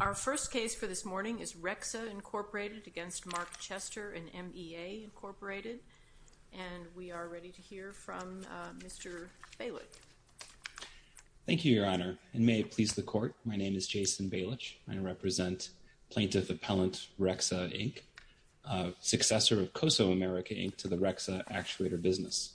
Our first case for this morning is REXA, Incorporated against Mark Chester and MEA, Incorporated. And we are ready to hear from Mr. Bailich. Thank you, Your Honor. And may it please the Court, my name is Jason Bailich. I represent Plaintiff Appellant REXA, Inc., successor of COSO America, Inc., to the REXA actuator business.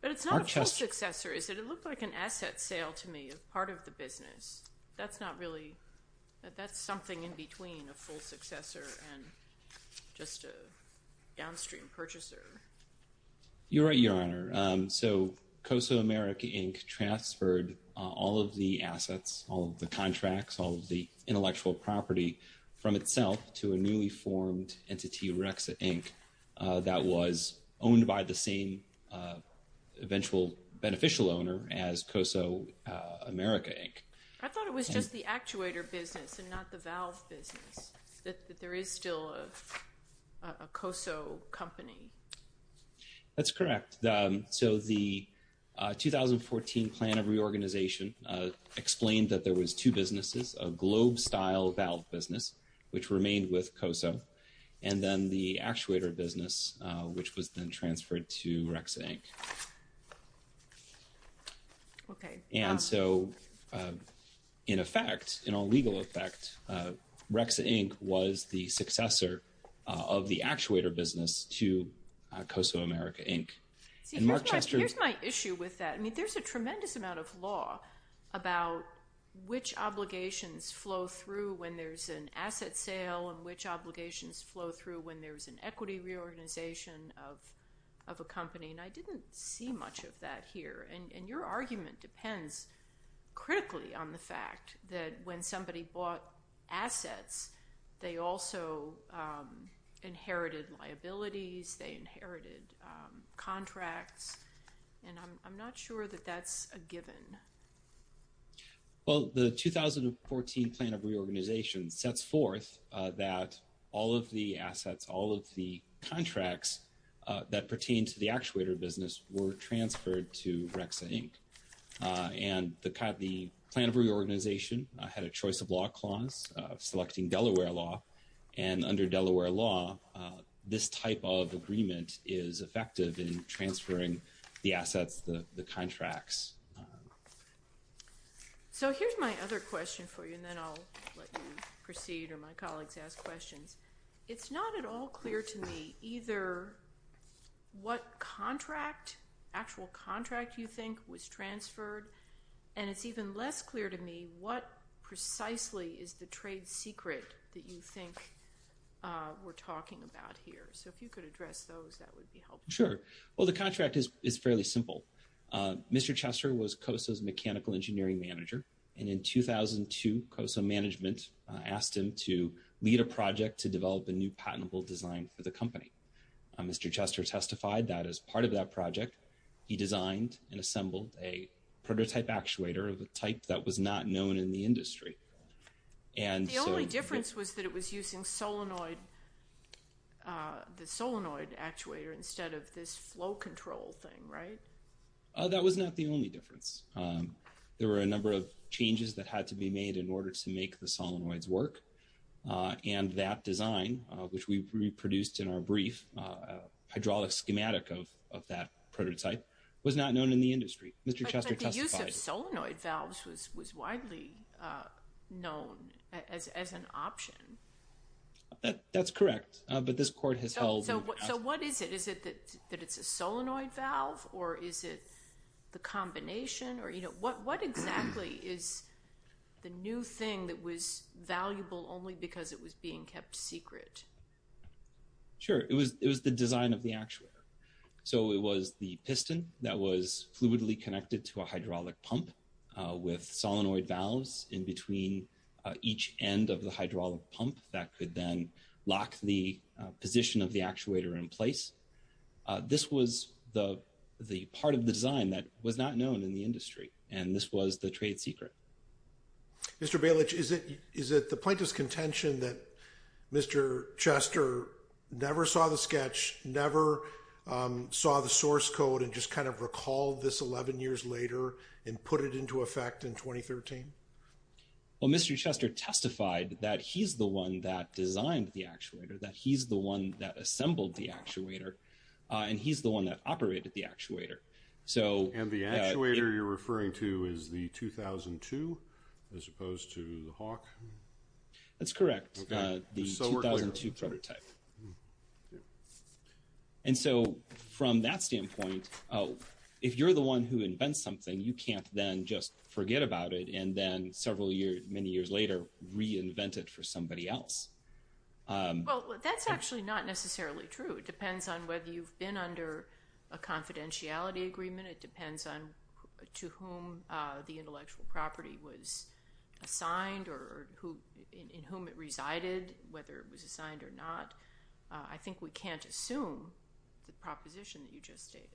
But it's not a full successor, is it? It looked like an asset sale to me, part of the business. That's not really – that's something in between a full successor and just a downstream purchaser. You're right, Your Honor. So COSO America, Inc. transferred all of the assets, all of the contracts, all of the intellectual property from itself to a newly formed entity, REXA, Inc., that was owned by the same eventual beneficial owner as COSO America, Inc. I thought it was just the actuator business and not the valve business, that there is still a COSO company. That's correct. So the 2014 plan of reorganization explained that there was two businesses, a globe-style valve business, which remained with COSO, and then the actuator business, which was then transferred to REXA, Inc. Okay. And so in effect, in all legal effect, REXA, Inc. was the successor of the actuator business to COSO America, Inc. See, here's my issue with that. I mean, there's a tremendous amount of law about which obligations flow through when there's an asset sale and which obligations flow through when there's an equity reorganization of a company. And I didn't see much of that here. And your argument depends critically on the fact that when somebody bought assets, they also inherited liabilities, they inherited contracts, and I'm not sure that that's a given. Well, the 2014 plan of reorganization sets forth that all of the assets, all of the contracts that pertain to the actuator business were transferred to REXA, Inc. And the plan of reorganization had a choice of law clause selecting Delaware law, and under Delaware law, this type of agreement is effective in transferring the assets, the contracts. So here's my other question for you, and then I'll let you proceed or my colleagues ask questions. It's not at all clear to me either what contract, actual contract you think was transferred, and it's even less clear to me what precisely is the trade secret that you think we're talking about here. So if you could address those, that would be helpful. Sure. Well, the contract is fairly simple. Mr. Chester was COSO's mechanical engineering manager, and in 2002, COSO management asked him to lead a project to develop a new patentable design for the company. Mr. Chester testified that as part of that project, he designed and assembled a prototype actuator of a type that was not known in the industry. The only difference was that it was using the solenoid actuator instead of this flow control thing, right? That was not the only difference. There were a number of changes that had to be made in order to make the solenoids work, and that design, which we reproduced in our brief hydraulic schematic of that prototype, was not known in the industry. Mr. Chester testified. But the use of solenoid valves was widely known as an option. That's correct, but this court has held— So what is it? Is it that it's a solenoid valve, or is it the combination? What exactly is the new thing that was valuable only because it was being kept secret? Sure. It was the design of the actuator. So it was the piston that was fluidly connected to a hydraulic pump with solenoid valves in between each end of the hydraulic pump that could then lock the position of the actuator in place. This was the part of the design that was not known in the industry, and this was the trade secret. Mr. Bailich, is it the plaintiff's contention that Mr. Chester never saw the sketch, never saw the source code, and just kind of recalled this 11 years later and put it into effect in 2013? Well, Mr. Chester testified that he's the one that designed the actuator, that he's the one that assembled the actuator, and he's the one that operated the actuator. And the actuator you're referring to is the 2002 as opposed to the Hawk? That's correct, the 2002 prototype. And so from that standpoint, if you're the one who invents something, you can't then just forget about it and then several years, many years later, reinvent it for somebody else. Well, that's actually not necessarily true. It depends on whether you've been under a confidentiality agreement. It depends on to whom the intellectual property was assigned or in whom it resided, whether it was assigned or not. I think we can't assume the proposition that you just stated.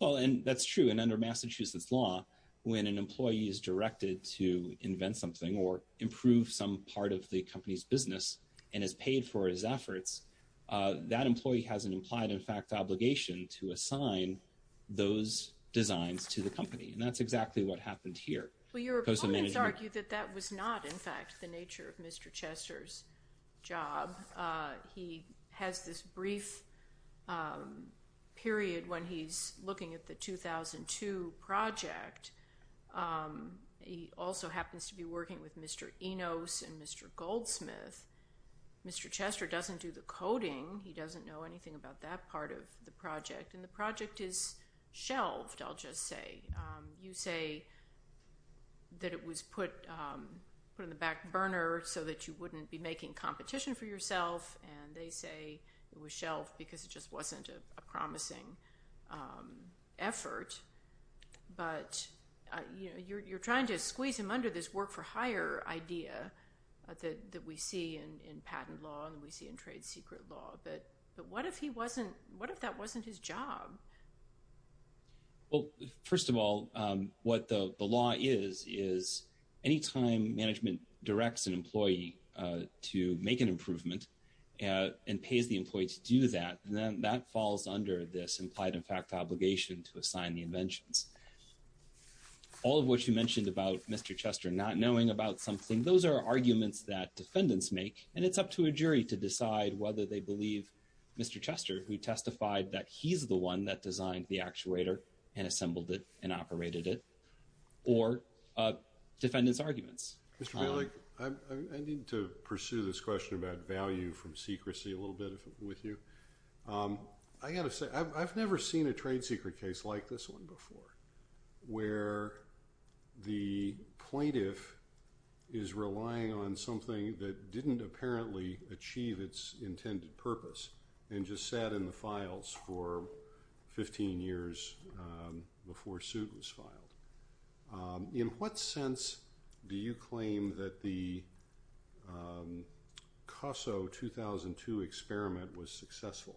Well, and that's true. And under Massachusetts law, when an employee is directed to invent something or improve some part of the company's business and is paid for his efforts, that employee has an implied, in fact, obligation to assign those designs to the company. And that's exactly what happened here. Well, your opponents argue that that was not, in fact, the nature of Mr. Chester's job. He has this brief period when he's looking at the 2002 project. He also happens to be working with Mr. Enos and Mr. Goldsmith. Mr. Chester doesn't do the coding. He doesn't know anything about that part of the project. And the project is shelved, I'll just say. You say that it was put in the back burner so that you wouldn't be making competition for yourself, and they say it was shelved because it just wasn't a promising effort. But you're trying to squeeze him under this work-for-hire idea that we see in patent law and we see in trade secret law. But what if that wasn't his job? Well, first of all, what the law is, is any time management directs an employee to make an improvement and pays the employee to do that, then that falls under this implied-in-fact obligation to assign the inventions. All of what you mentioned about Mr. Chester not knowing about something, those are arguments that defendants make, and it's up to a jury to decide whether they believe Mr. Chester, who testified that he's the one that designed the actuator and assembled it and operated it, or defendants' arguments. Mr. Bailey, I need to pursue this question about value from secrecy a little bit with you. I've never seen a trade secret case like this one before, where the plaintiff is relying on something that didn't apparently achieve its intended purpose and just sat in the files for 15 years before suit was filed. In what sense do you claim that the COSO 2002 experiment was successful?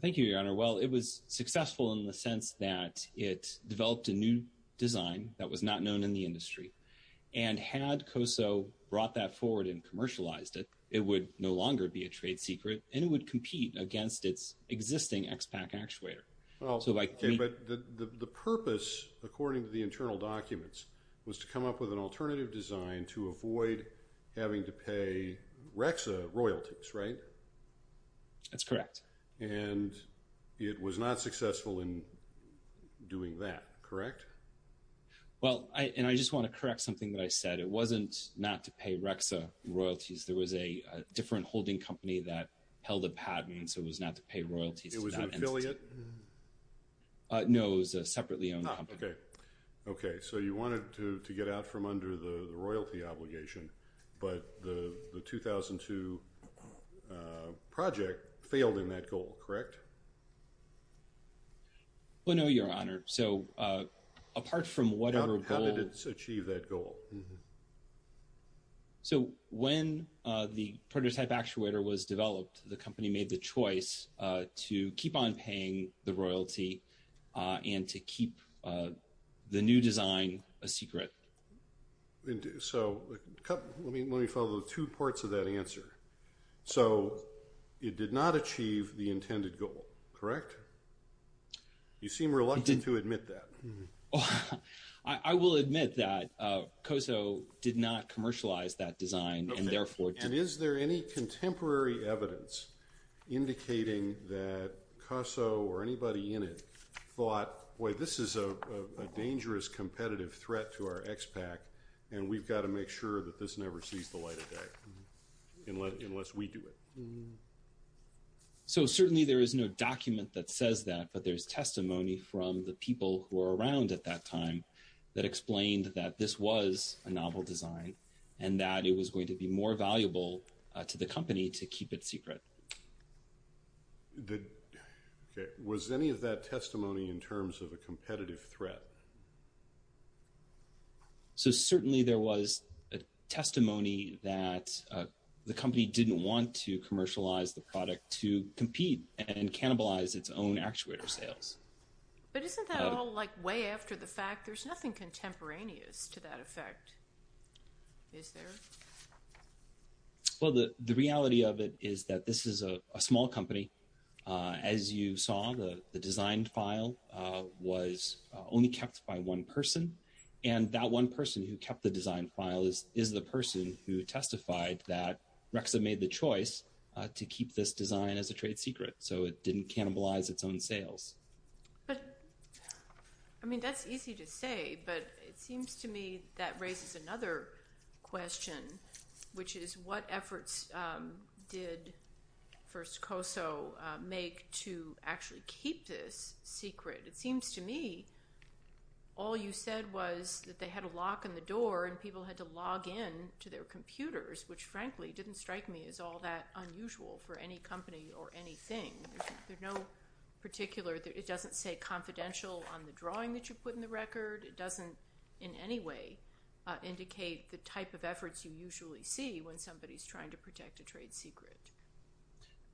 Thank you, Your Honor. Well, it was successful in the sense that it developed a new design that was not known in the industry. And had COSO brought that forward and commercialized it, it would no longer be a trade secret, and it would compete against its existing XPAC actuator. But the purpose, according to the internal documents, was to come up with an alternative design to avoid having to pay REXA royalties, right? That's correct. And it was not successful in doing that, correct? Well, and I just want to correct something that I said. It wasn't not to pay REXA royalties. There was a different holding company that held a patent, so it was not to pay royalties. It was an affiliate? No, it was a separately owned company. Ah, okay. Okay, so you wanted to get out from under the royalty obligation, but the 2002 project failed in that goal, correct? Well, no, Your Honor. So apart from whatever goal— How did it achieve that goal? So when the prototype actuator was developed, the company made the choice to keep on paying the royalty and to keep the new design a secret. So let me follow two parts of that answer. So it did not achieve the intended goal, correct? You seem reluctant to admit that. I will admit that COSO did not commercialize that design and therefore— Okay, and is there any contemporary evidence indicating that COSO or anybody in it thought, boy, this is a dangerous competitive threat to our expat and we've got to make sure that this never sees the light of day unless we do it? So certainly there is no document that says that, but there's testimony from the people who were around at that time that explained that this was a novel design and that it was going to be more valuable to the company to keep it secret. Okay, was any of that testimony in terms of a competitive threat? So certainly there was testimony that the company didn't want to commercialize the product to compete and cannibalize its own actuator sales. But isn't that all like way after the fact? There's nothing contemporaneous to that effect, is there? Well, the reality of it is that this is a small company. As you saw, the design file was only kept by one person, and that one person who kept the design file is the person who testified that this design is a trade secret, so it didn't cannibalize its own sales. I mean, that's easy to say, but it seems to me that raises another question, which is what efforts did First Koso make to actually keep this secret? It seems to me all you said was that they had a lock on the door and people had to log in to their computers, which frankly didn't strike me as all that unusual for any company or anything. There's no particular – it doesn't say confidential on the drawing that you put in the record. It doesn't in any way indicate the type of efforts you usually see when somebody is trying to protect a trade secret.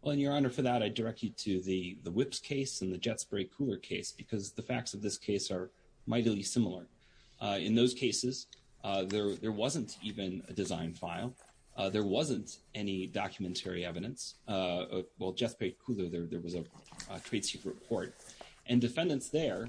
Well, Your Honor, for that I direct you to the Whips case and the Jet Spray Cooler case because the facts of this case are mightily similar. In those cases, there wasn't even a design file. There wasn't any documentary evidence. Well, Jet Spray Cooler, there was a trade secret court, and defendants there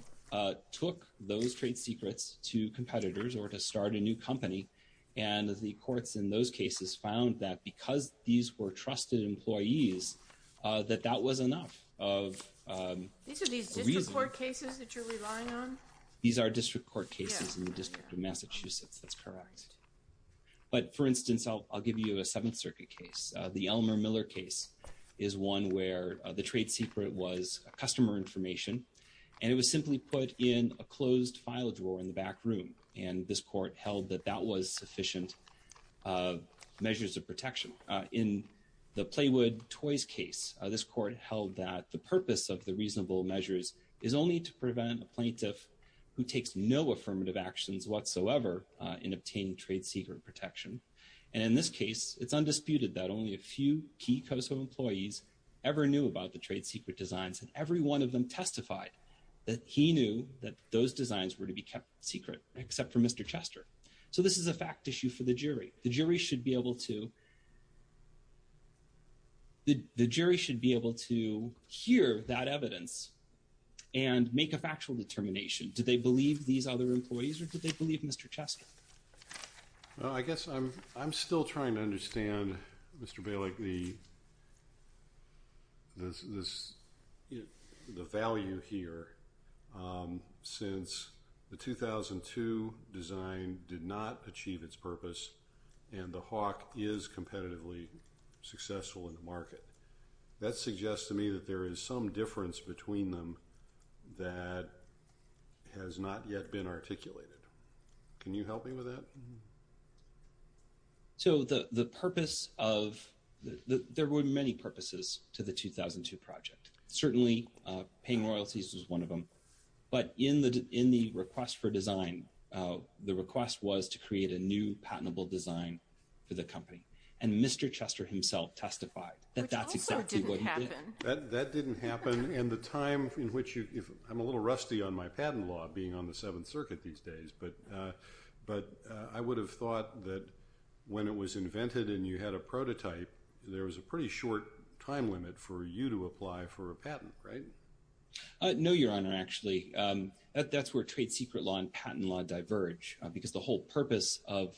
took those trade secrets to competitors or to start a new company, and the courts in those cases found that because these were trusted employees, that that was enough of a reason. These are these district court cases that you're relying on? These are district court cases in the District of Massachusetts. That's correct. But for instance, I'll give you a Seventh Circuit case. The Elmer Miller case is one where the trade secret was customer information, and it was simply put in a closed file drawer in the back room, and this court held that that was sufficient measures of protection. In the Playwood Toys case, this court held that the purpose of the reasonable measures is only to prevent a plaintiff who takes no affirmative actions whatsoever in obtaining trade secret protection. And in this case, it's undisputed that only a few key COSO employees ever knew about the trade secret designs, and every one of them testified that he knew that those designs were to be kept secret except for Mr. Chester. So this is a fact issue for the jury. The jury should be able to hear that evidence and make a factual determination. Did they believe these other employees, or did they believe Mr. Chester? Well, I guess I'm still trying to understand, Mr. Bailick, the value here since the 2002 design did not achieve its purpose and the Hawk is competitively successful in the market. That suggests to me that there is some difference between them that has not yet been articulated. Can you help me with that? So there were many purposes to the 2002 project. Certainly, paying royalties was one of them. But in the request for design, the request was to create a new patentable design for the company, and Mr. Chester himself testified that that's exactly what he did. Which also didn't happen. That didn't happen, and the time in which you – I'm a little rusty on my patent law being on the Seventh Circuit these days, but I would have thought that when it was invented and you had a prototype, there was a pretty short time limit for you to apply for a patent, right? No, Your Honor, actually. That's where trade secret law and patent law diverge, because the whole purpose of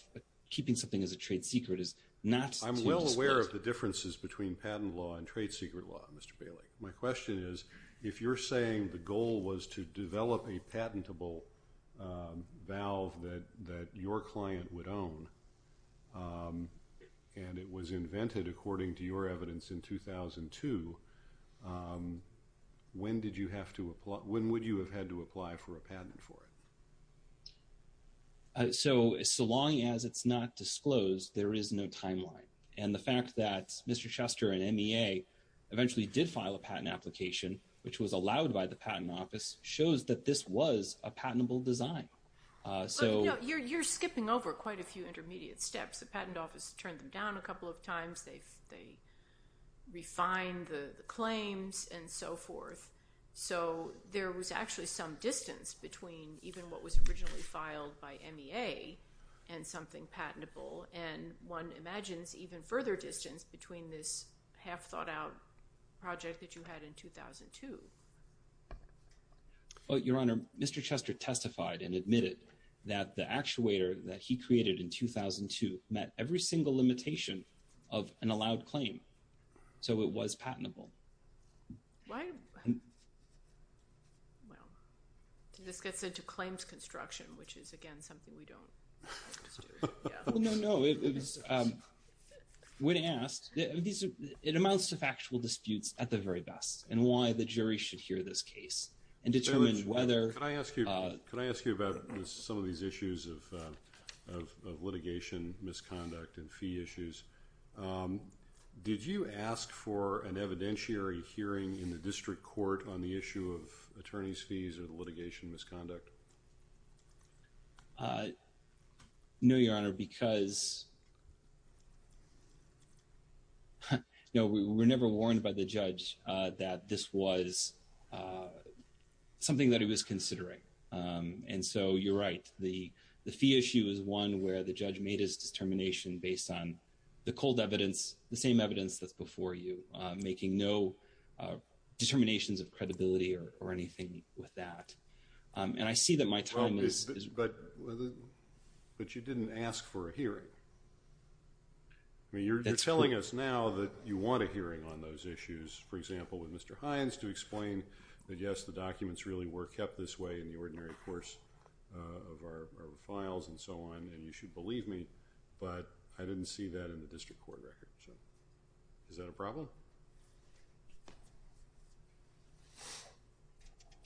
keeping something as a trade secret is not to – I'm well aware of the differences between patent law and trade secret law, Mr. Bailick. My question is, if you're saying the goal was to develop a patentable valve that your client would own, and it was invented, according to your evidence, in 2002, when did you have to – when would you have had to apply for a patent for it? So long as it's not disclosed, there is no timeline. And the fact that Mr. Chester and MEA eventually did file a patent application, which was allowed by the Patent Office, shows that this was a patentable design. You're skipping over quite a few intermediate steps. The Patent Office turned them down a couple of times. They refined the claims and so forth. So there was actually some distance between even what was originally filed by MEA and something patentable, and one imagines even further distance between this half-thought-out project that you had in 2002. Your Honor, Mr. Chester testified and admitted that the actuator that he created in 2002 met every single limitation of an allowed claim, so it was patentable. Why – well, this gets into claims construction, which is, again, something we don't like to do. No, no, no. When asked, it amounts to factual disputes at the very best and why the jury should hear this case and determine whether – Could I ask you about some of these issues of litigation, misconduct, and fee issues? Did you ask for an evidentiary hearing in the district court on the issue of attorneys' fees or the litigation misconduct? No, Your Honor, because – no, we were never warned by the judge that this was something that he was considering. And so you're right. The fee issue is one where the judge made his determination based on the cold evidence, the same evidence that's before you, making no determinations of credibility or anything with that. And I see that my time is – But you didn't ask for a hearing. I mean, you're telling us now that you want a hearing on those issues, for example, with Mr. Hines, to explain that, yes, the documents really were kept this way in the ordinary course of our files and so on, and you should believe me, but I didn't see that in the district court record. So is that a problem?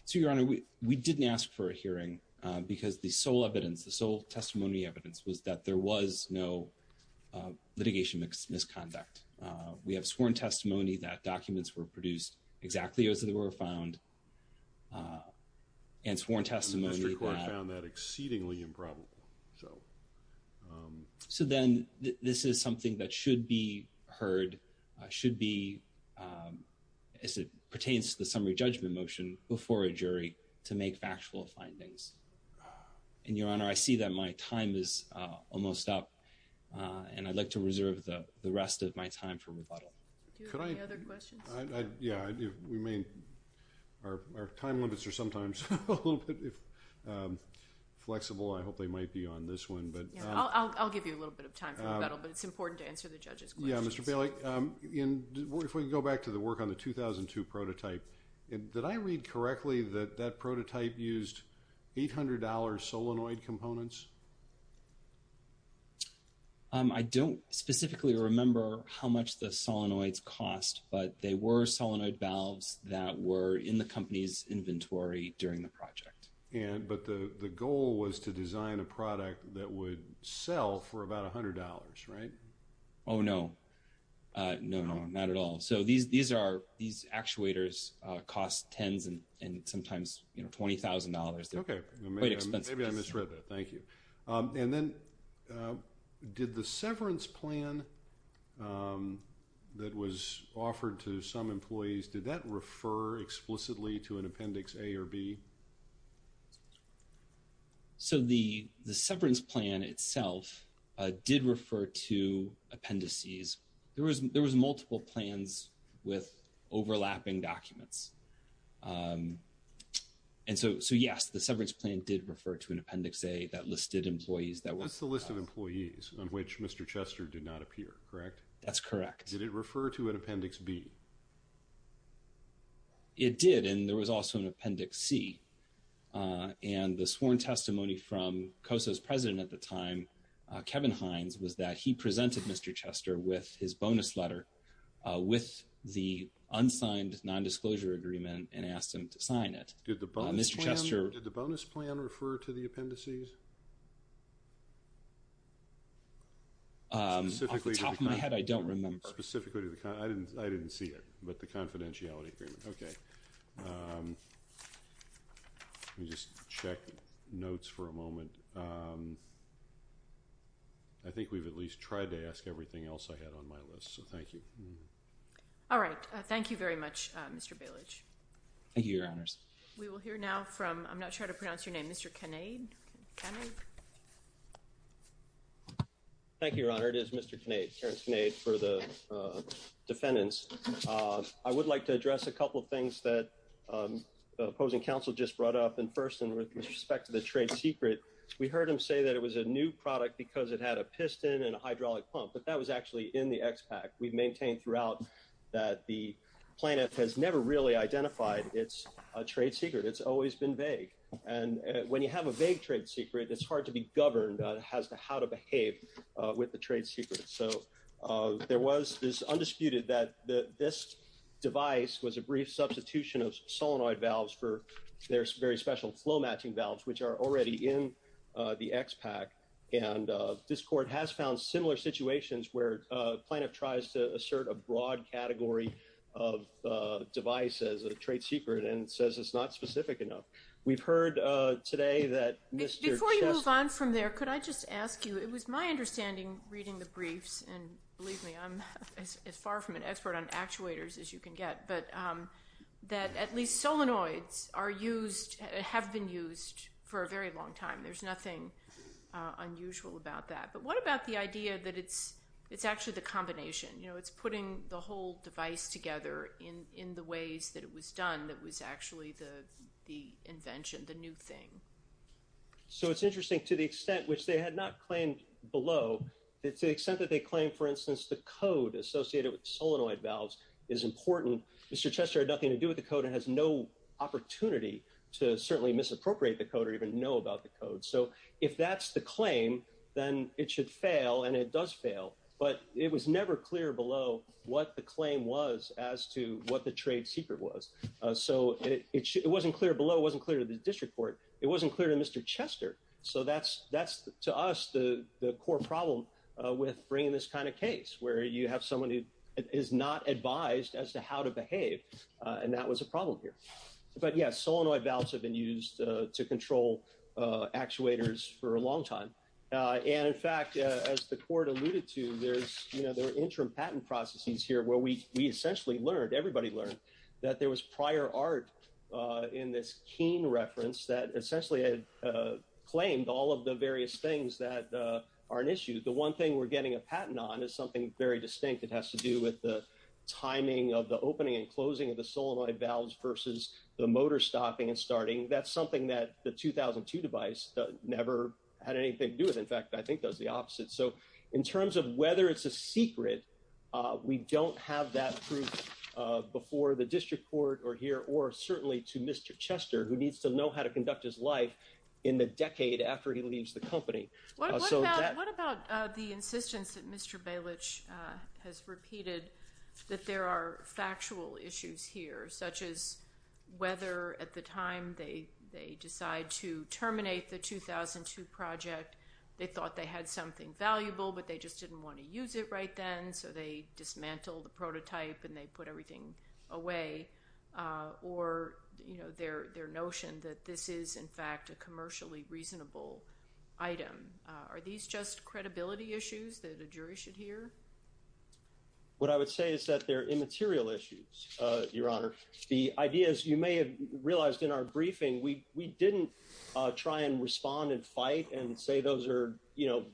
So, Your Honor, we didn't ask for a hearing because the sole evidence, the sole testimony evidence was that there was no litigation misconduct. We have sworn testimony that documents were produced exactly as they were found and sworn testimony that – The district court found that exceedingly improbable. So then this is something that should be heard, should be – as it pertains to the summary judgment motion before a jury to make factual findings. And, Your Honor, I see that my time is almost up, and I'd like to reserve the rest of my time for rebuttal. Do you have any other questions? Yeah, we may – our time limits are sometimes a little bit flexible. I hope they might be on this one, but – Yeah, I'll give you a little bit of time for rebuttal, but it's important to answer the judge's questions. Yeah, Mr. Bailey, if we go back to the work on the 2002 prototype, did I read correctly that that prototype used $800 solenoid components? I don't specifically remember how much the solenoids cost, but they were solenoid valves that were in the company's inventory during the project. But the goal was to design a product that would sell for about $100, right? Oh, no. No, no, not at all. So these actuators cost tens and sometimes $20,000. Okay. Maybe I misread that. Thank you. And then did the severance plan that was offered to some employees, did that refer explicitly to an Appendix A or B? So the severance plan itself did refer to appendices. There was multiple plans with overlapping documents. And so, yes, the severance plan did refer to an Appendix A that listed employees that were – What's the list of employees on which Mr. Chester did not appear, correct? That's correct. Did it refer to an Appendix B? It did, and there was also an Appendix C. And the sworn testimony from COSO's president at the time, Kevin Hines, was that he presented Mr. Chester with his bonus letter with the unsigned non-disclosure agreement and asked him to sign it. Did the bonus plan refer to the appendices? Off the top of my head, I don't remember. Specifically to the – I didn't see it, but the confidentiality agreement. Okay. Let me just check notes for a moment. And I think we've at least tried to ask everything else I had on my list, so thank you. All right. Thank you very much, Mr. Bailich. Thank you, Your Honors. We will hear now from – I'm not sure how to pronounce your name – Mr. Kinnaid? Thank you, Your Honor. It is Mr. Kinnaid, Terrence Kinnaid, for the defendants. I would like to address a couple of things that the opposing counsel just brought up. And first, with respect to the trade secret, we heard him say that it was a new product because it had a piston and a hydraulic pump, but that was actually in the expat. We've maintained throughout that the plaintiff has never really identified its trade secret. It's always been vague. And when you have a vague trade secret, it's hard to be governed as to how to behave with the trade secret. So there was this undisputed that this device was a brief substitution of solenoid valves for their very special flow-matching valves, which are already in the expat. And this court has found similar situations where a plaintiff tries to assert a broad category of device as a trade secret and says it's not specific enough. We've heard today that Mr. Chess… Before you move on from there, could I just ask you – it was my understanding reading the briefs, and believe me, I'm as far from an expert on actuators as you can get – that at least solenoids have been used for a very long time. There's nothing unusual about that. But what about the idea that it's actually the combination? You know, it's putting the whole device together in the ways that it was done that was actually the invention, the new thing. So it's interesting. To the extent which they had not claimed below, to the extent that they claim, for instance, the code associated with solenoid valves is important, Mr. Chester had nothing to do with the code and has no opportunity to certainly misappropriate the code or even know about the code. So if that's the claim, then it should fail, and it does fail. But it was never clear below what the claim was as to what the trade secret was. So it wasn't clear below. It wasn't clear to the district court. It wasn't clear to Mr. Chester. So that's, to us, the core problem with bringing this kind of case, where you have someone who is not advised as to how to behave, and that was a problem here. But, yes, solenoid valves have been used to control actuators for a long time. And, in fact, as the court alluded to, there are interim patent processes here where we essentially learned, everybody learned, that there was prior art in this Keene reference that essentially claimed all of the various things that are an issue. The one thing we're getting a patent on is something very distinct. It has to do with the timing of the opening and closing of the solenoid valves versus the motor stopping and starting. That's something that the 2002 device never had anything to do with. In fact, I think that's the opposite. So in terms of whether it's a secret, we don't have that proof before the district court or here or certainly to Mr. Chester, who needs to know how to conduct his life in the decade after he leaves the company. What about the insistence that Mr. Bailich has repeated that there are factual issues here, such as whether at the time they decide to terminate the 2002 project, they thought they had something valuable, but they just didn't want to use it right then, so they dismantled the prototype and they put everything away, or their notion that this is, in fact, a commercially reasonable item. Are these just credibility issues that a jury should hear? What I would say is that they're immaterial issues, Your Honor. The idea is you may have realized in our briefing we didn't try and respond and fight and say those are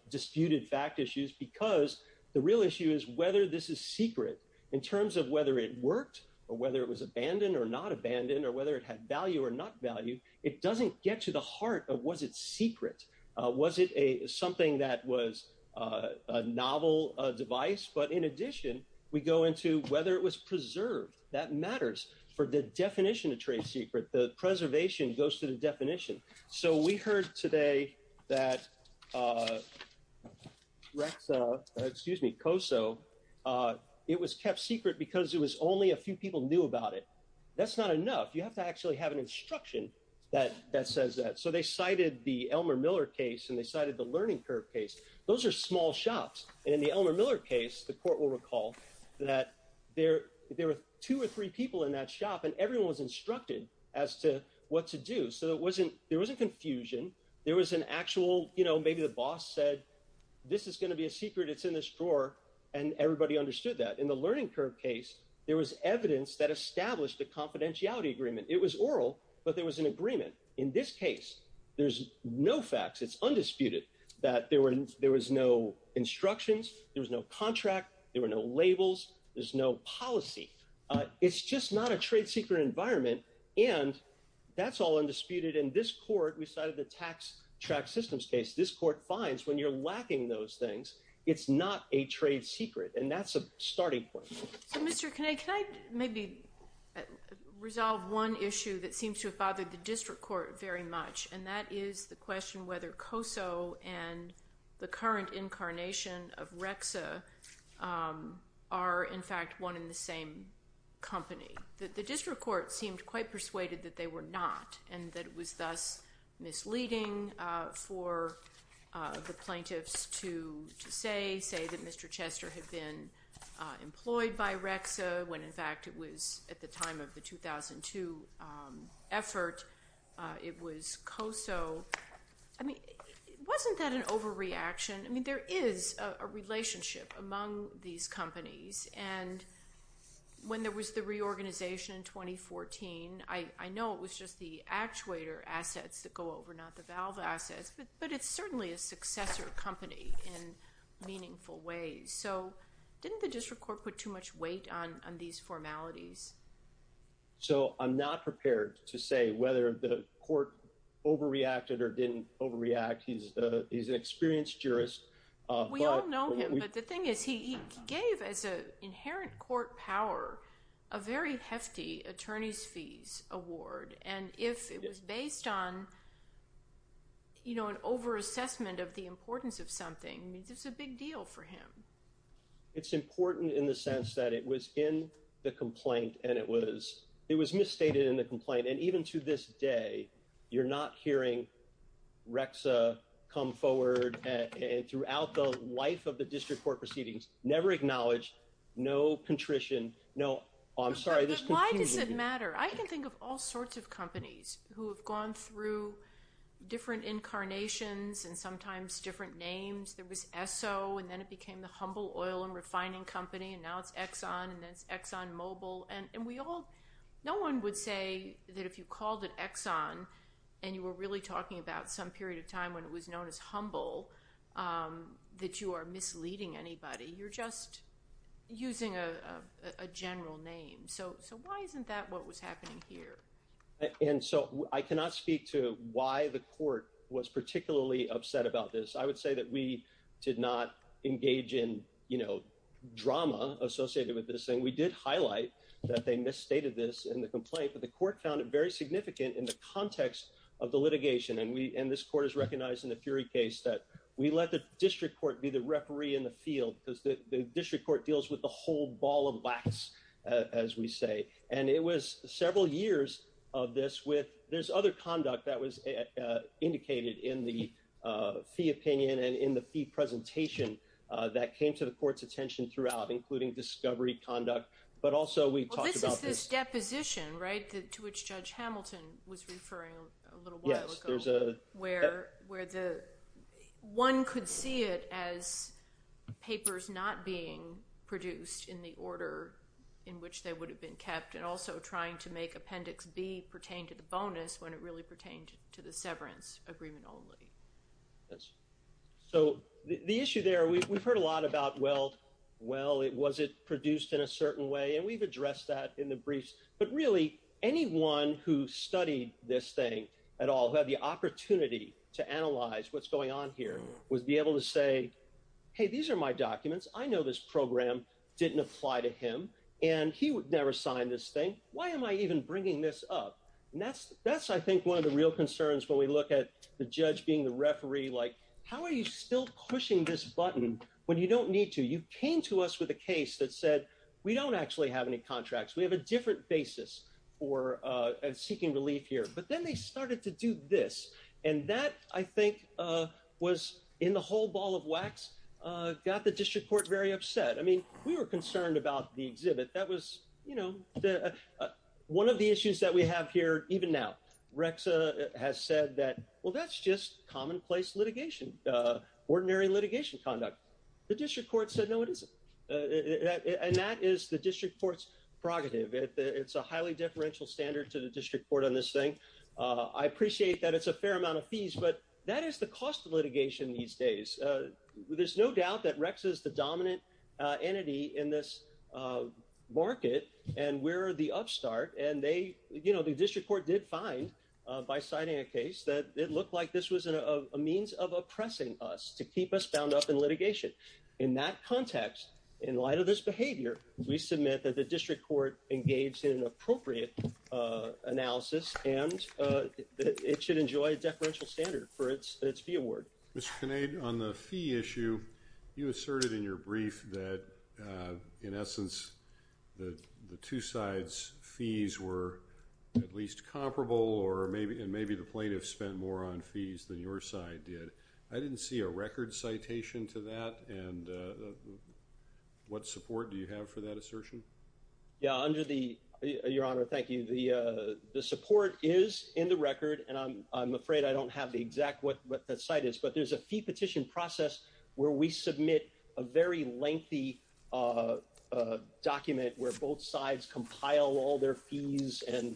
disputed fact issues because the real issue is whether this is secret. In terms of whether it worked or whether it was abandoned or not abandoned or whether it had value or not value, it doesn't get to the heart of was it secret. Was it something that was a novel device? But in addition, we go into whether it was preserved. That matters for the definition of trade secret. The preservation goes to the definition. So we heard today that COSO, it was kept secret because it was only a few people knew about it. That's not enough. You have to actually have an instruction that says that. So they cited the Elmer Miller case and they cited the Learning Curve case. Those are small shops. In the Elmer Miller case, the court will recall that there were two or three people in that shop and everyone was instructed as to what to do. So there wasn't confusion. There was an actual, you know, maybe the boss said this is going to be a secret. It's in this drawer. And everybody understood that. In the Learning Curve case, there was evidence that established a confidentiality agreement. It was oral, but there was an agreement. In this case, there's no facts. It's undisputed that there was no instructions. There was no contract. There were no labels. There's no policy. It's just not a trade secret environment. And that's all undisputed. In this court, we cited the tax track systems case. This court finds when you're lacking those things, it's not a trade secret. And that's a starting point. So, Mr. Kanade, can I maybe resolve one issue that seems to have bothered the district court very much? And that is the question whether COSO and the current incarnation of REXA are, in fact, one in the same company. The district court seemed quite persuaded that they were not and that it was thus misleading for the plaintiffs to say, say that Mr. Chester had been employed by REXA when, in fact, it was at the time of the 2002 effort, it was COSO. I mean, wasn't that an overreaction? I mean, there is a relationship among these companies. And when there was the reorganization in 2014, I know it was just the actuator assets that go over, not the valve assets. But it's certainly a successor company in meaningful ways. So, didn't the district court put too much weight on these formalities? So, I'm not prepared to say whether the court overreacted or didn't overreact. He's an experienced jurist. We all know him, but the thing is he gave, as an inherent court power, a very hefty attorney's fees award. And if it was based on, you know, an overassessment of the importance of something, it's a big deal for him. It's important in the sense that it was in the complaint and it was misstated in the complaint. And even to this day, you're not hearing REXA come forward throughout the life of the district court proceedings. Never acknowledged. No contrition. No, I'm sorry, this is confusing. But why does it matter? I can think of all sorts of companies who have gone through different incarnations and sometimes different names. There was Esso, and then it became the Humble Oil and Refining Company, and now it's Exxon, and then it's Exxon Mobil. And we all, no one would say that if you called it Exxon and you were really talking about some period of time when it was known as Humble, that you are misleading anybody. You're just using a general name. So, why isn't that what was happening here? And so, I cannot speak to why the court was particularly upset about this. I would say that we did not engage in, you know, drama associated with this thing. We did highlight that they misstated this in the complaint, but the court found it very significant in the context of the litigation. And this court has recognized in the Fury case that we let the district court be the referee in the field because the district court deals with the whole ball of wax, as we say. And it was several years of this with, there's other conduct that was indicated in the fee opinion and in the fee presentation that came to the court's attention throughout, including discovery conduct, but also we talked about this. Well, this is this deposition, right, to which Judge Hamilton was referring a little while ago. Where one could see it as papers not being produced in the order in which they would have been kept, and also trying to make Appendix B pertain to the bonus when it really pertained to the severance agreement only. So, the issue there, we've heard a lot about, well, was it produced in a certain way, and we've addressed that in the briefs. But really, anyone who studied this thing at all, who had the opportunity to analyze what's going on here, would be able to say, hey, these are my documents, I know this program didn't apply to him, and he would never sign this thing, why am I even bringing this up? And that's, I think, one of the real concerns when we look at the judge being the referee, like, how are you still pushing this button when you don't need to? You came to us with a case that said, we don't actually have any contracts, we have a different basis for seeking relief here. But then they started to do this, and that, I think, was in the whole ball of wax, got the district court very upset. I mean, we were concerned about the exhibit, that was, you know, one of the issues that we have here even now. But now, REXA has said that, well, that's just commonplace litigation, ordinary litigation conduct. The district court said, no, it isn't. And that is the district court's prerogative. It's a highly differential standard to the district court on this thing. I appreciate that it's a fair amount of fees, but that is the cost of litigation these days. There's no doubt that REXA is the dominant entity in this market, and we're the upstart. And they, you know, the district court did find, by citing a case, that it looked like this was a means of oppressing us, to keep us bound up in litigation. In that context, in light of this behavior, we submit that the district court engaged in an appropriate analysis, and it should enjoy a differential standard for its fee award. Mr. Kinnaid, on the fee issue, you asserted in your brief that, in essence, the two sides' fees were at least comparable, and maybe the plaintiffs spent more on fees than your side did. I didn't see a record citation to that, and what support do you have for that assertion? Yeah, under the – your Honor, thank you. The support is in the record, and I'm afraid I don't have the exact – what the cite is, but there's a fee petition process where we submit a very lengthy document where both sides compile all their fees and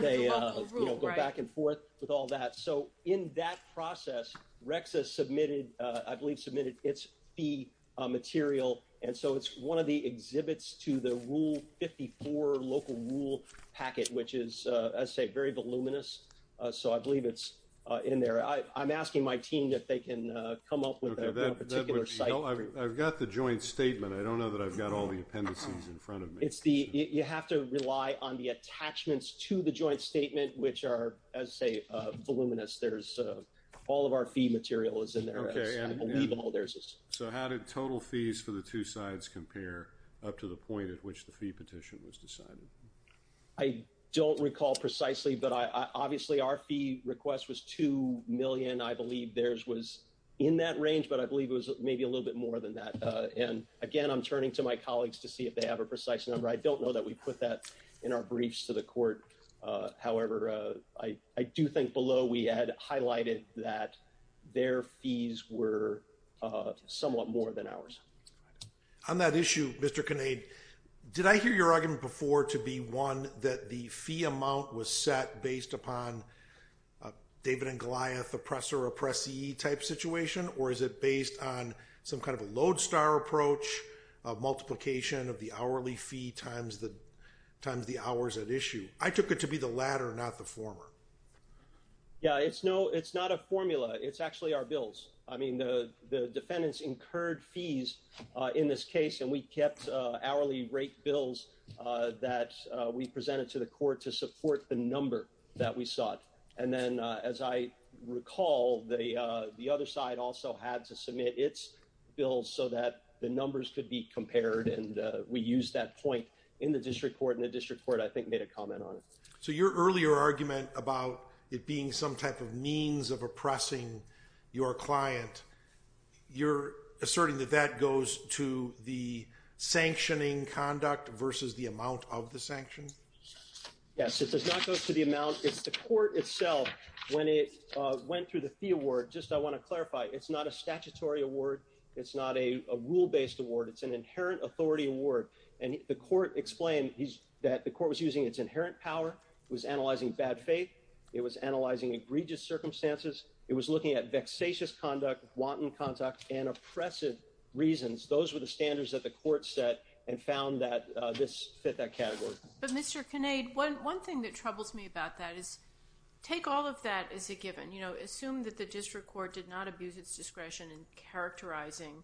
they go back and forth with all that. So in that process, RECSA submitted – I believe submitted its fee material, and so it's one of the exhibits to the Rule 54 local rule packet, which is, as I say, very voluminous. So I believe it's in there. I'm asking my team if they can come up with a particular cite. I've got the joint statement. I don't know that I've got all the appendices in front of me. It's the – you have to rely on the attachments to the joint statement, which are, as I say, voluminous. There's – all of our fee material is in there. I believe all theirs is. So how did total fees for the two sides compare up to the point at which the fee petition was decided? I don't recall precisely, but obviously our fee request was $2 million. I believe theirs was in that range, but I believe it was maybe a little bit more than that. And again, I'm turning to my colleagues to see if they have a precise number. I don't know that we put that in our briefs to the court. However, I do think below we had highlighted that their fees were somewhat more than ours. On that issue, Mr. Kinnaid, did I hear your argument before to be one that the fee amount was set based upon a David and Goliath oppressor-oppressee type situation, or is it based on some kind of a lodestar approach of multiplication of the hourly fee times the hours at issue? I took it to be the latter, not the former. Yeah, it's no – it's not a formula. It's actually our bills. I mean, the defendants incurred fees in this case, and we kept hourly rate bills that we presented to the court to support the number that we sought. And then, as I recall, the other side also had to submit its bills so that the numbers could be compared, and we used that point in the district court, and the district court, I think, made a comment on it. So your earlier argument about it being some type of means of oppressing your client, you're asserting that that goes to the sanctioning conduct versus the amount of the sanctions? Yes, it does not go to the amount. It's the court itself. When it went through the fee award, just I want to clarify, it's not a statutory award. It's not a rule-based award. It's an inherent authority award, and the court explained that the court was using its inherent power. It was analyzing bad faith. It was analyzing egregious circumstances. It was looking at vexatious conduct, wanton conduct, and oppressive reasons. Those were the standards that the court set and found that this fit that category. But, Mr. Kinnaid, one thing that troubles me about that is take all of that as a given. You know, assume that the district court did not abuse its discretion in characterizing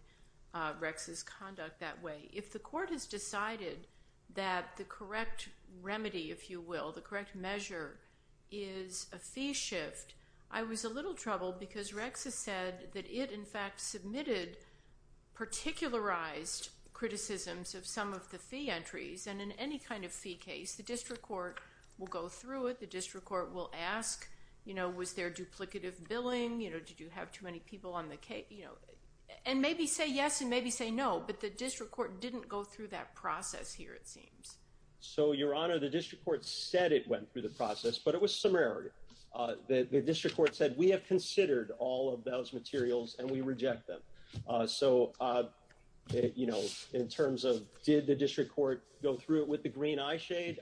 Rex's conduct that way. If the court has decided that the correct remedy, if you will, the correct measure is a fee shift, I was a little troubled because Rex has said that it, in fact, submitted particularized criticisms of some of the fee entries. And in any kind of fee case, the district court will go through it. The district court will ask, you know, was there duplicative billing? You know, did you have too many people on the case? You know, and maybe say yes and maybe say no, but the district court didn't go through that process here, it seems. So, Your Honor, the district court said it went through the process, but it was summary. The district court said we have considered all of those materials and we reject them. So, you know, in terms of did the district court go through it with the green eye shade?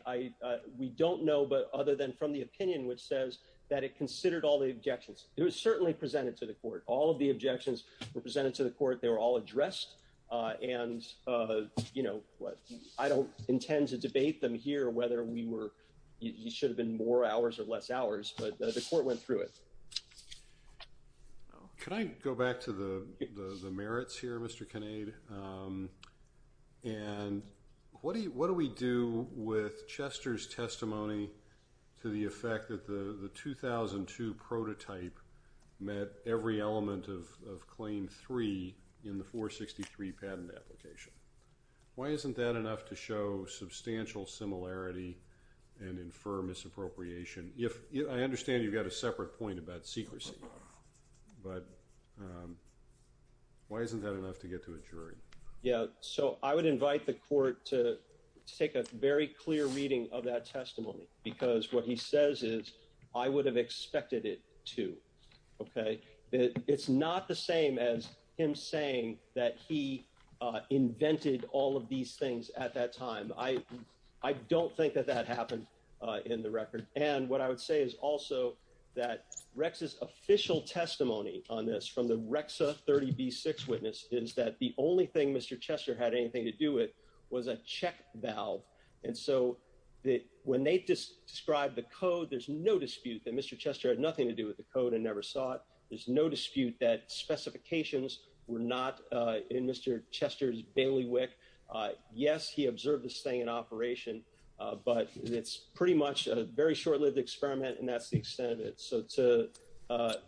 We don't know, but other than from the opinion, which says that it considered all the objections, it was certainly presented to the court. All of the objections were presented to the court. They were all addressed. And, you know, I don't intend to debate them here, whether we were you should have been more hours or less hours, but the court went through it. Can I go back to the merits here, Mr. Kinnaid, and what do we do with Chester's testimony to the effect that the 2002 prototype met every element of Claim 3 in the 463 patent application? Why isn't that enough to show substantial similarity and infer misappropriation? I understand you've got a separate point about secrecy, but why isn't that enough to get to a jury? Yeah, so I would invite the court to take a very clear reading of that testimony because what he says is I would have expected it to. OK, it's not the same as him saying that he invented all of these things at that time. I don't think that that happened in the record. And what I would say is also that Rex's official testimony on this from the Rex 30B6 witness is that the only thing Mr. Chester had anything to do with was a check valve. And so when they described the code, there's no dispute that Mr. Chester had nothing to do with the code and never saw it. There's no dispute that specifications were not in Mr. Chester's bailiwick. Yes, he observed this thing in operation, but it's pretty much a very short lived experiment. And that's the extent of it. So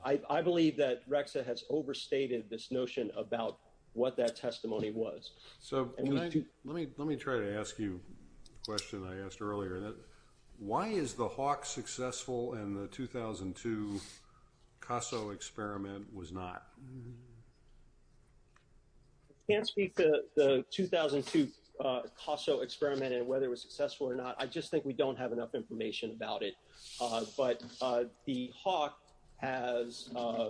I believe that Rex has overstated this notion about what that testimony was. So let me let me try to ask you a question I asked earlier. Why is the Hawk successful and the 2002 CASO experiment was not? I can't speak to the 2002 CASO experiment and whether it was successful or not. I just think we don't have enough information about it. But the Hawk has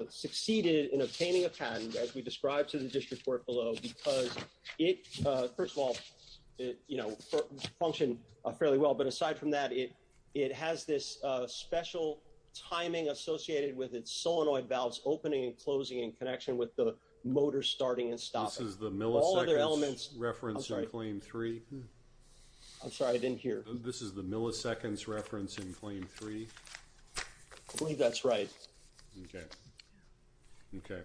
succeeded in obtaining a patent, as we described to the district court below, because it first of all, you know, function fairly well. But aside from that, it it has this special timing associated with its solenoid valves opening and closing in connection with the motor starting and stopping. This is the milliseconds reference in claim three. I'm sorry, I didn't hear. This is the milliseconds reference in claim three. I believe that's right. OK. OK.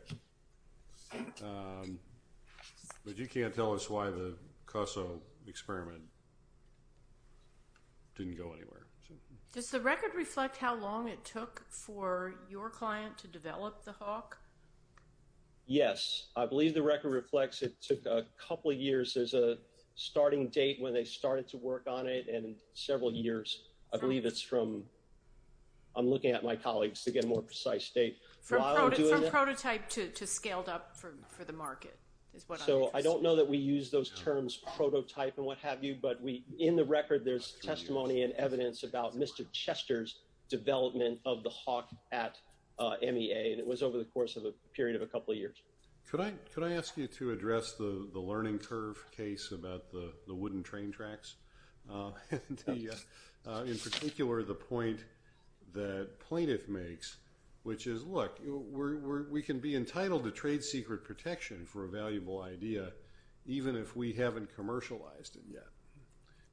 But you can't tell us why the CASO experiment didn't go anywhere. Does the record reflect how long it took for your client to develop the Hawk? Yes, I believe the record reflects it took a couple of years as a starting date when they started to work on it and several years. I believe it's from I'm looking at my colleagues to get a more precise date. From prototype to scaled up for the market is what I'm interested in. So I don't know that we use those terms prototype and what have you. But in the record, there's testimony and evidence about Mr. Chester's development of the Hawk at MEA. And it was over the course of a period of a couple of years. Could I could I ask you to address the learning curve case about the wooden train tracks? In particular, the point that plaintiff makes, which is look, we can be entitled to trade secret protection for a valuable idea, even if we haven't commercialized it yet.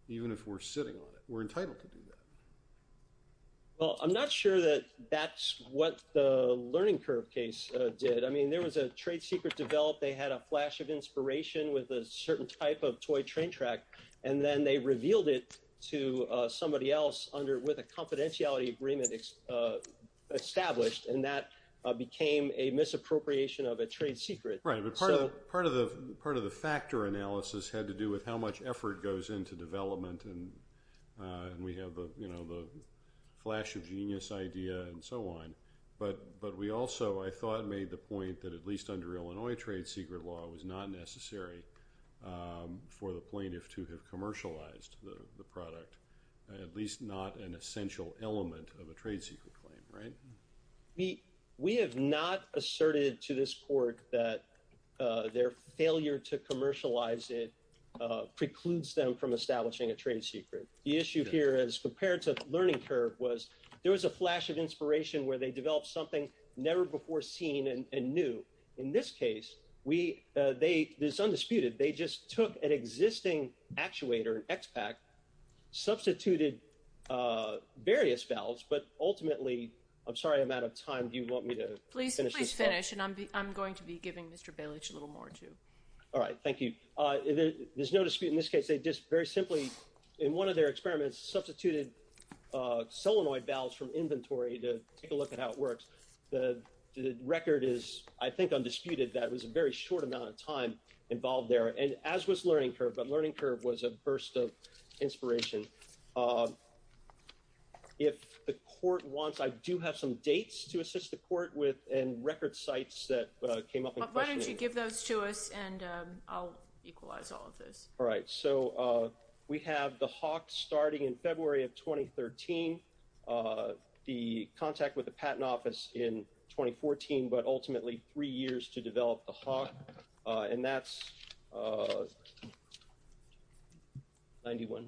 Even if we're sitting on it, we're entitled to do that. Well, I'm not sure that that's what the learning curve case did. I mean, there was a trade secret developed. They had a flash of inspiration with a certain type of toy train track. And then they revealed it to somebody else under with a confidentiality agreement established. And that became a misappropriation of a trade secret. Part of the part of the factor analysis had to do with how much effort goes into development. And we have the flash of genius idea and so on. But but we also, I thought, made the point that at least under Illinois trade secret law was not necessary for the plaintiff to have commercialized the product, at least not an essential element of a trade secret claim. Right. We we have not asserted to this court that their failure to commercialize it precludes them from establishing a trade secret. The issue here is compared to the learning curve was there was a flash of inspiration where they developed something never before seen and knew. In this case, we they this undisputed. They just took an existing actuator and expat substituted various valves. But ultimately, I'm sorry, I'm out of time. Do you want me to please finish? And I'm I'm going to be giving Mr. Bill a little more to. All right. Thank you. There's no dispute in this case. They just very simply in one of their experiments substituted solenoid valves from inventory to take a look at how it works. The record is, I think, undisputed. That was a very short amount of time involved there and as was learning curve. But learning curve was a burst of inspiration. If the court wants, I do have some dates to assist the court with and record sites that came up. Why don't you give those to us and I'll equalize all of this. All right. So we have the hawk starting in February of 2013. The contact with the patent office in 2014, but ultimately three years to develop the hawk. And that's. Ninety one.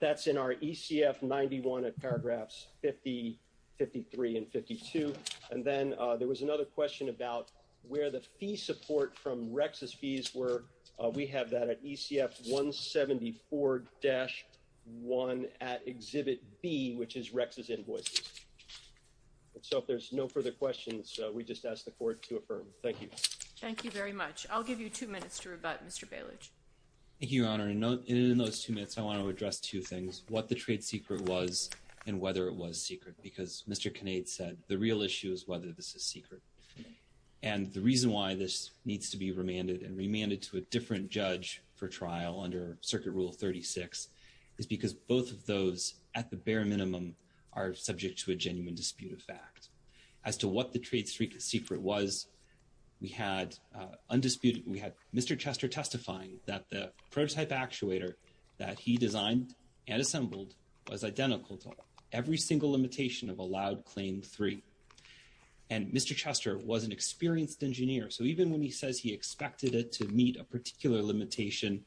That's in our ECF. Ninety one of paragraphs 50, 53 and 52. And then there was another question about where the fee support from Rex's fees were. We have that at ECF 174 dash one at Exhibit B, which is Rex's invoices. So if there's no further questions, we just ask the court to affirm. Thank you. Thank you very much. I'll give you two minutes to rebut Mr. Balich. Thank you, Your Honor. And in those two minutes, I want to address two things. What the trade secret was and whether it was secret, because Mr. Kinnaid said the real issue is whether this is secret. And the reason why this needs to be remanded and remanded to a different judge for trial under Circuit Rule 36 is because both of those at the bare minimum are subject to a genuine dispute of fact as to what the trade secret was. We had undisputed. We had Mr. Chester testifying that the prototype actuator that he designed and assembled was identical to every single limitation of allowed claim three. And Mr. Chester was an experienced engineer. So even when he says he expected it to meet a particular limitation,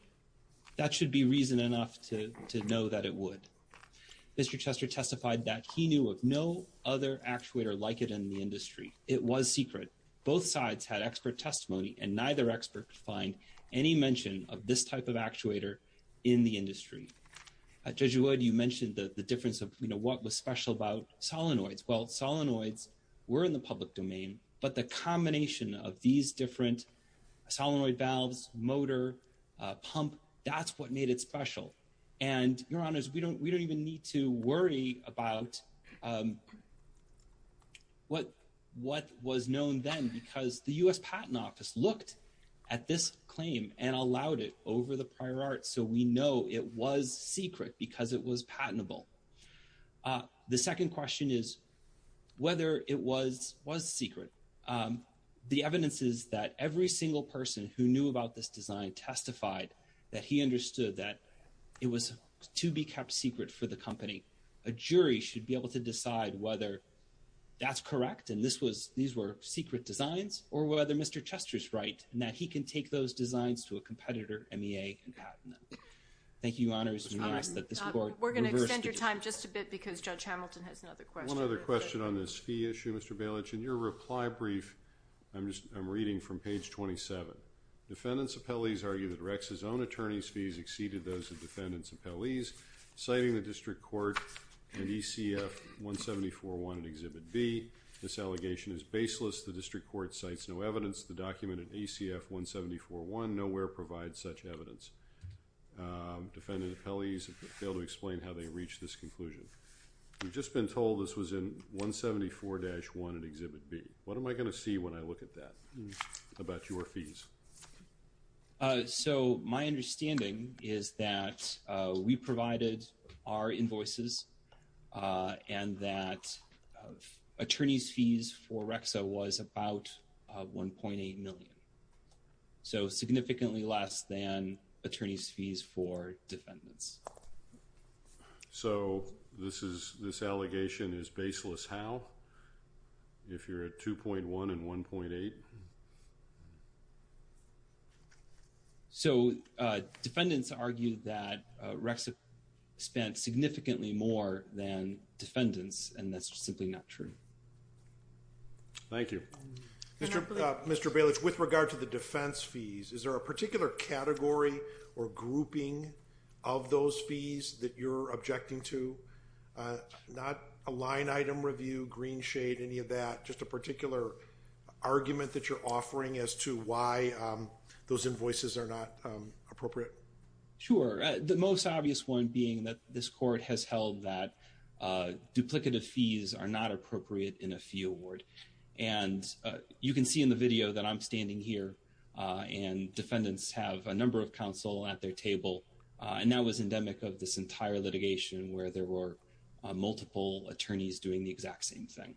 that should be reason enough to know that it would. Mr. Chester testified that he knew of no other actuator like it in the industry. It was secret. Both sides had expert testimony and neither expert find any mention of this type of actuator in the industry. Judge Wood, you mentioned the difference of what was special about solenoids. Well, solenoids were in the public domain, but the combination of these different solenoid valves, motor, pump, that's what made it special. And, Your Honors, we don't even need to worry about what was known then because the U.S. Patent Office looked at this claim and allowed it over the prior art so we know it was secret because it was patentable. The second question is whether it was secret. The evidence is that every single person who knew about this design testified that he understood that it was to be kept secret for the company. A jury should be able to decide whether that's correct and these were secret designs or whether Mr. Chester's right and that he can take those designs to a competitor MEA and patent them. Thank you, Your Honors. We're going to extend your time just a bit because Judge Hamilton has another question. One other question on this fee issue, Mr. Bailich. In your reply brief, I'm reading from page 27. Defendants' appellees argue that Rex's own attorney's fees exceeded those of defendants' appellees, citing the District Court and ECF 174.1 in Exhibit B. This allegation is baseless. The District Court cites no evidence. The document in ECF 174.1 nowhere provides such evidence. Defendant appellees have failed to explain how they reached this conclusion. We've just been told this was in 174-1 in Exhibit B. What am I going to see when I look at that about your fees? So, my understanding is that we provided our invoices and that attorney's fees for Rexa was about $1.8 million. So, significantly less than attorney's fees for defendants. So, this allegation is baseless how? If you're at 2.1 and 1.8? So, defendants argue that Rexa spent significantly more than defendants, and that's simply not true. Thank you. Mr. Bailich, with regard to the defense fees, is there a particular category or grouping of those fees that you're objecting to? Not a line item review, green shade, any of that, just a particular argument that you're offering as to why those invoices are not appropriate? Sure. The most obvious one being that this court has held that duplicative fees are not appropriate in a fee award. And you can see in the video that I'm standing here, and defendants have a number of counsel at their table. And that was endemic of this entire litigation where there were multiple attorneys doing the exact same thing.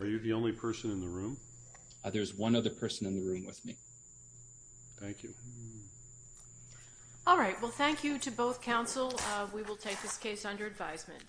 Are you the only person in the room? There's one other person in the room with me. Thank you. All right. Well, thank you to both counsel. We will take this case under advisement.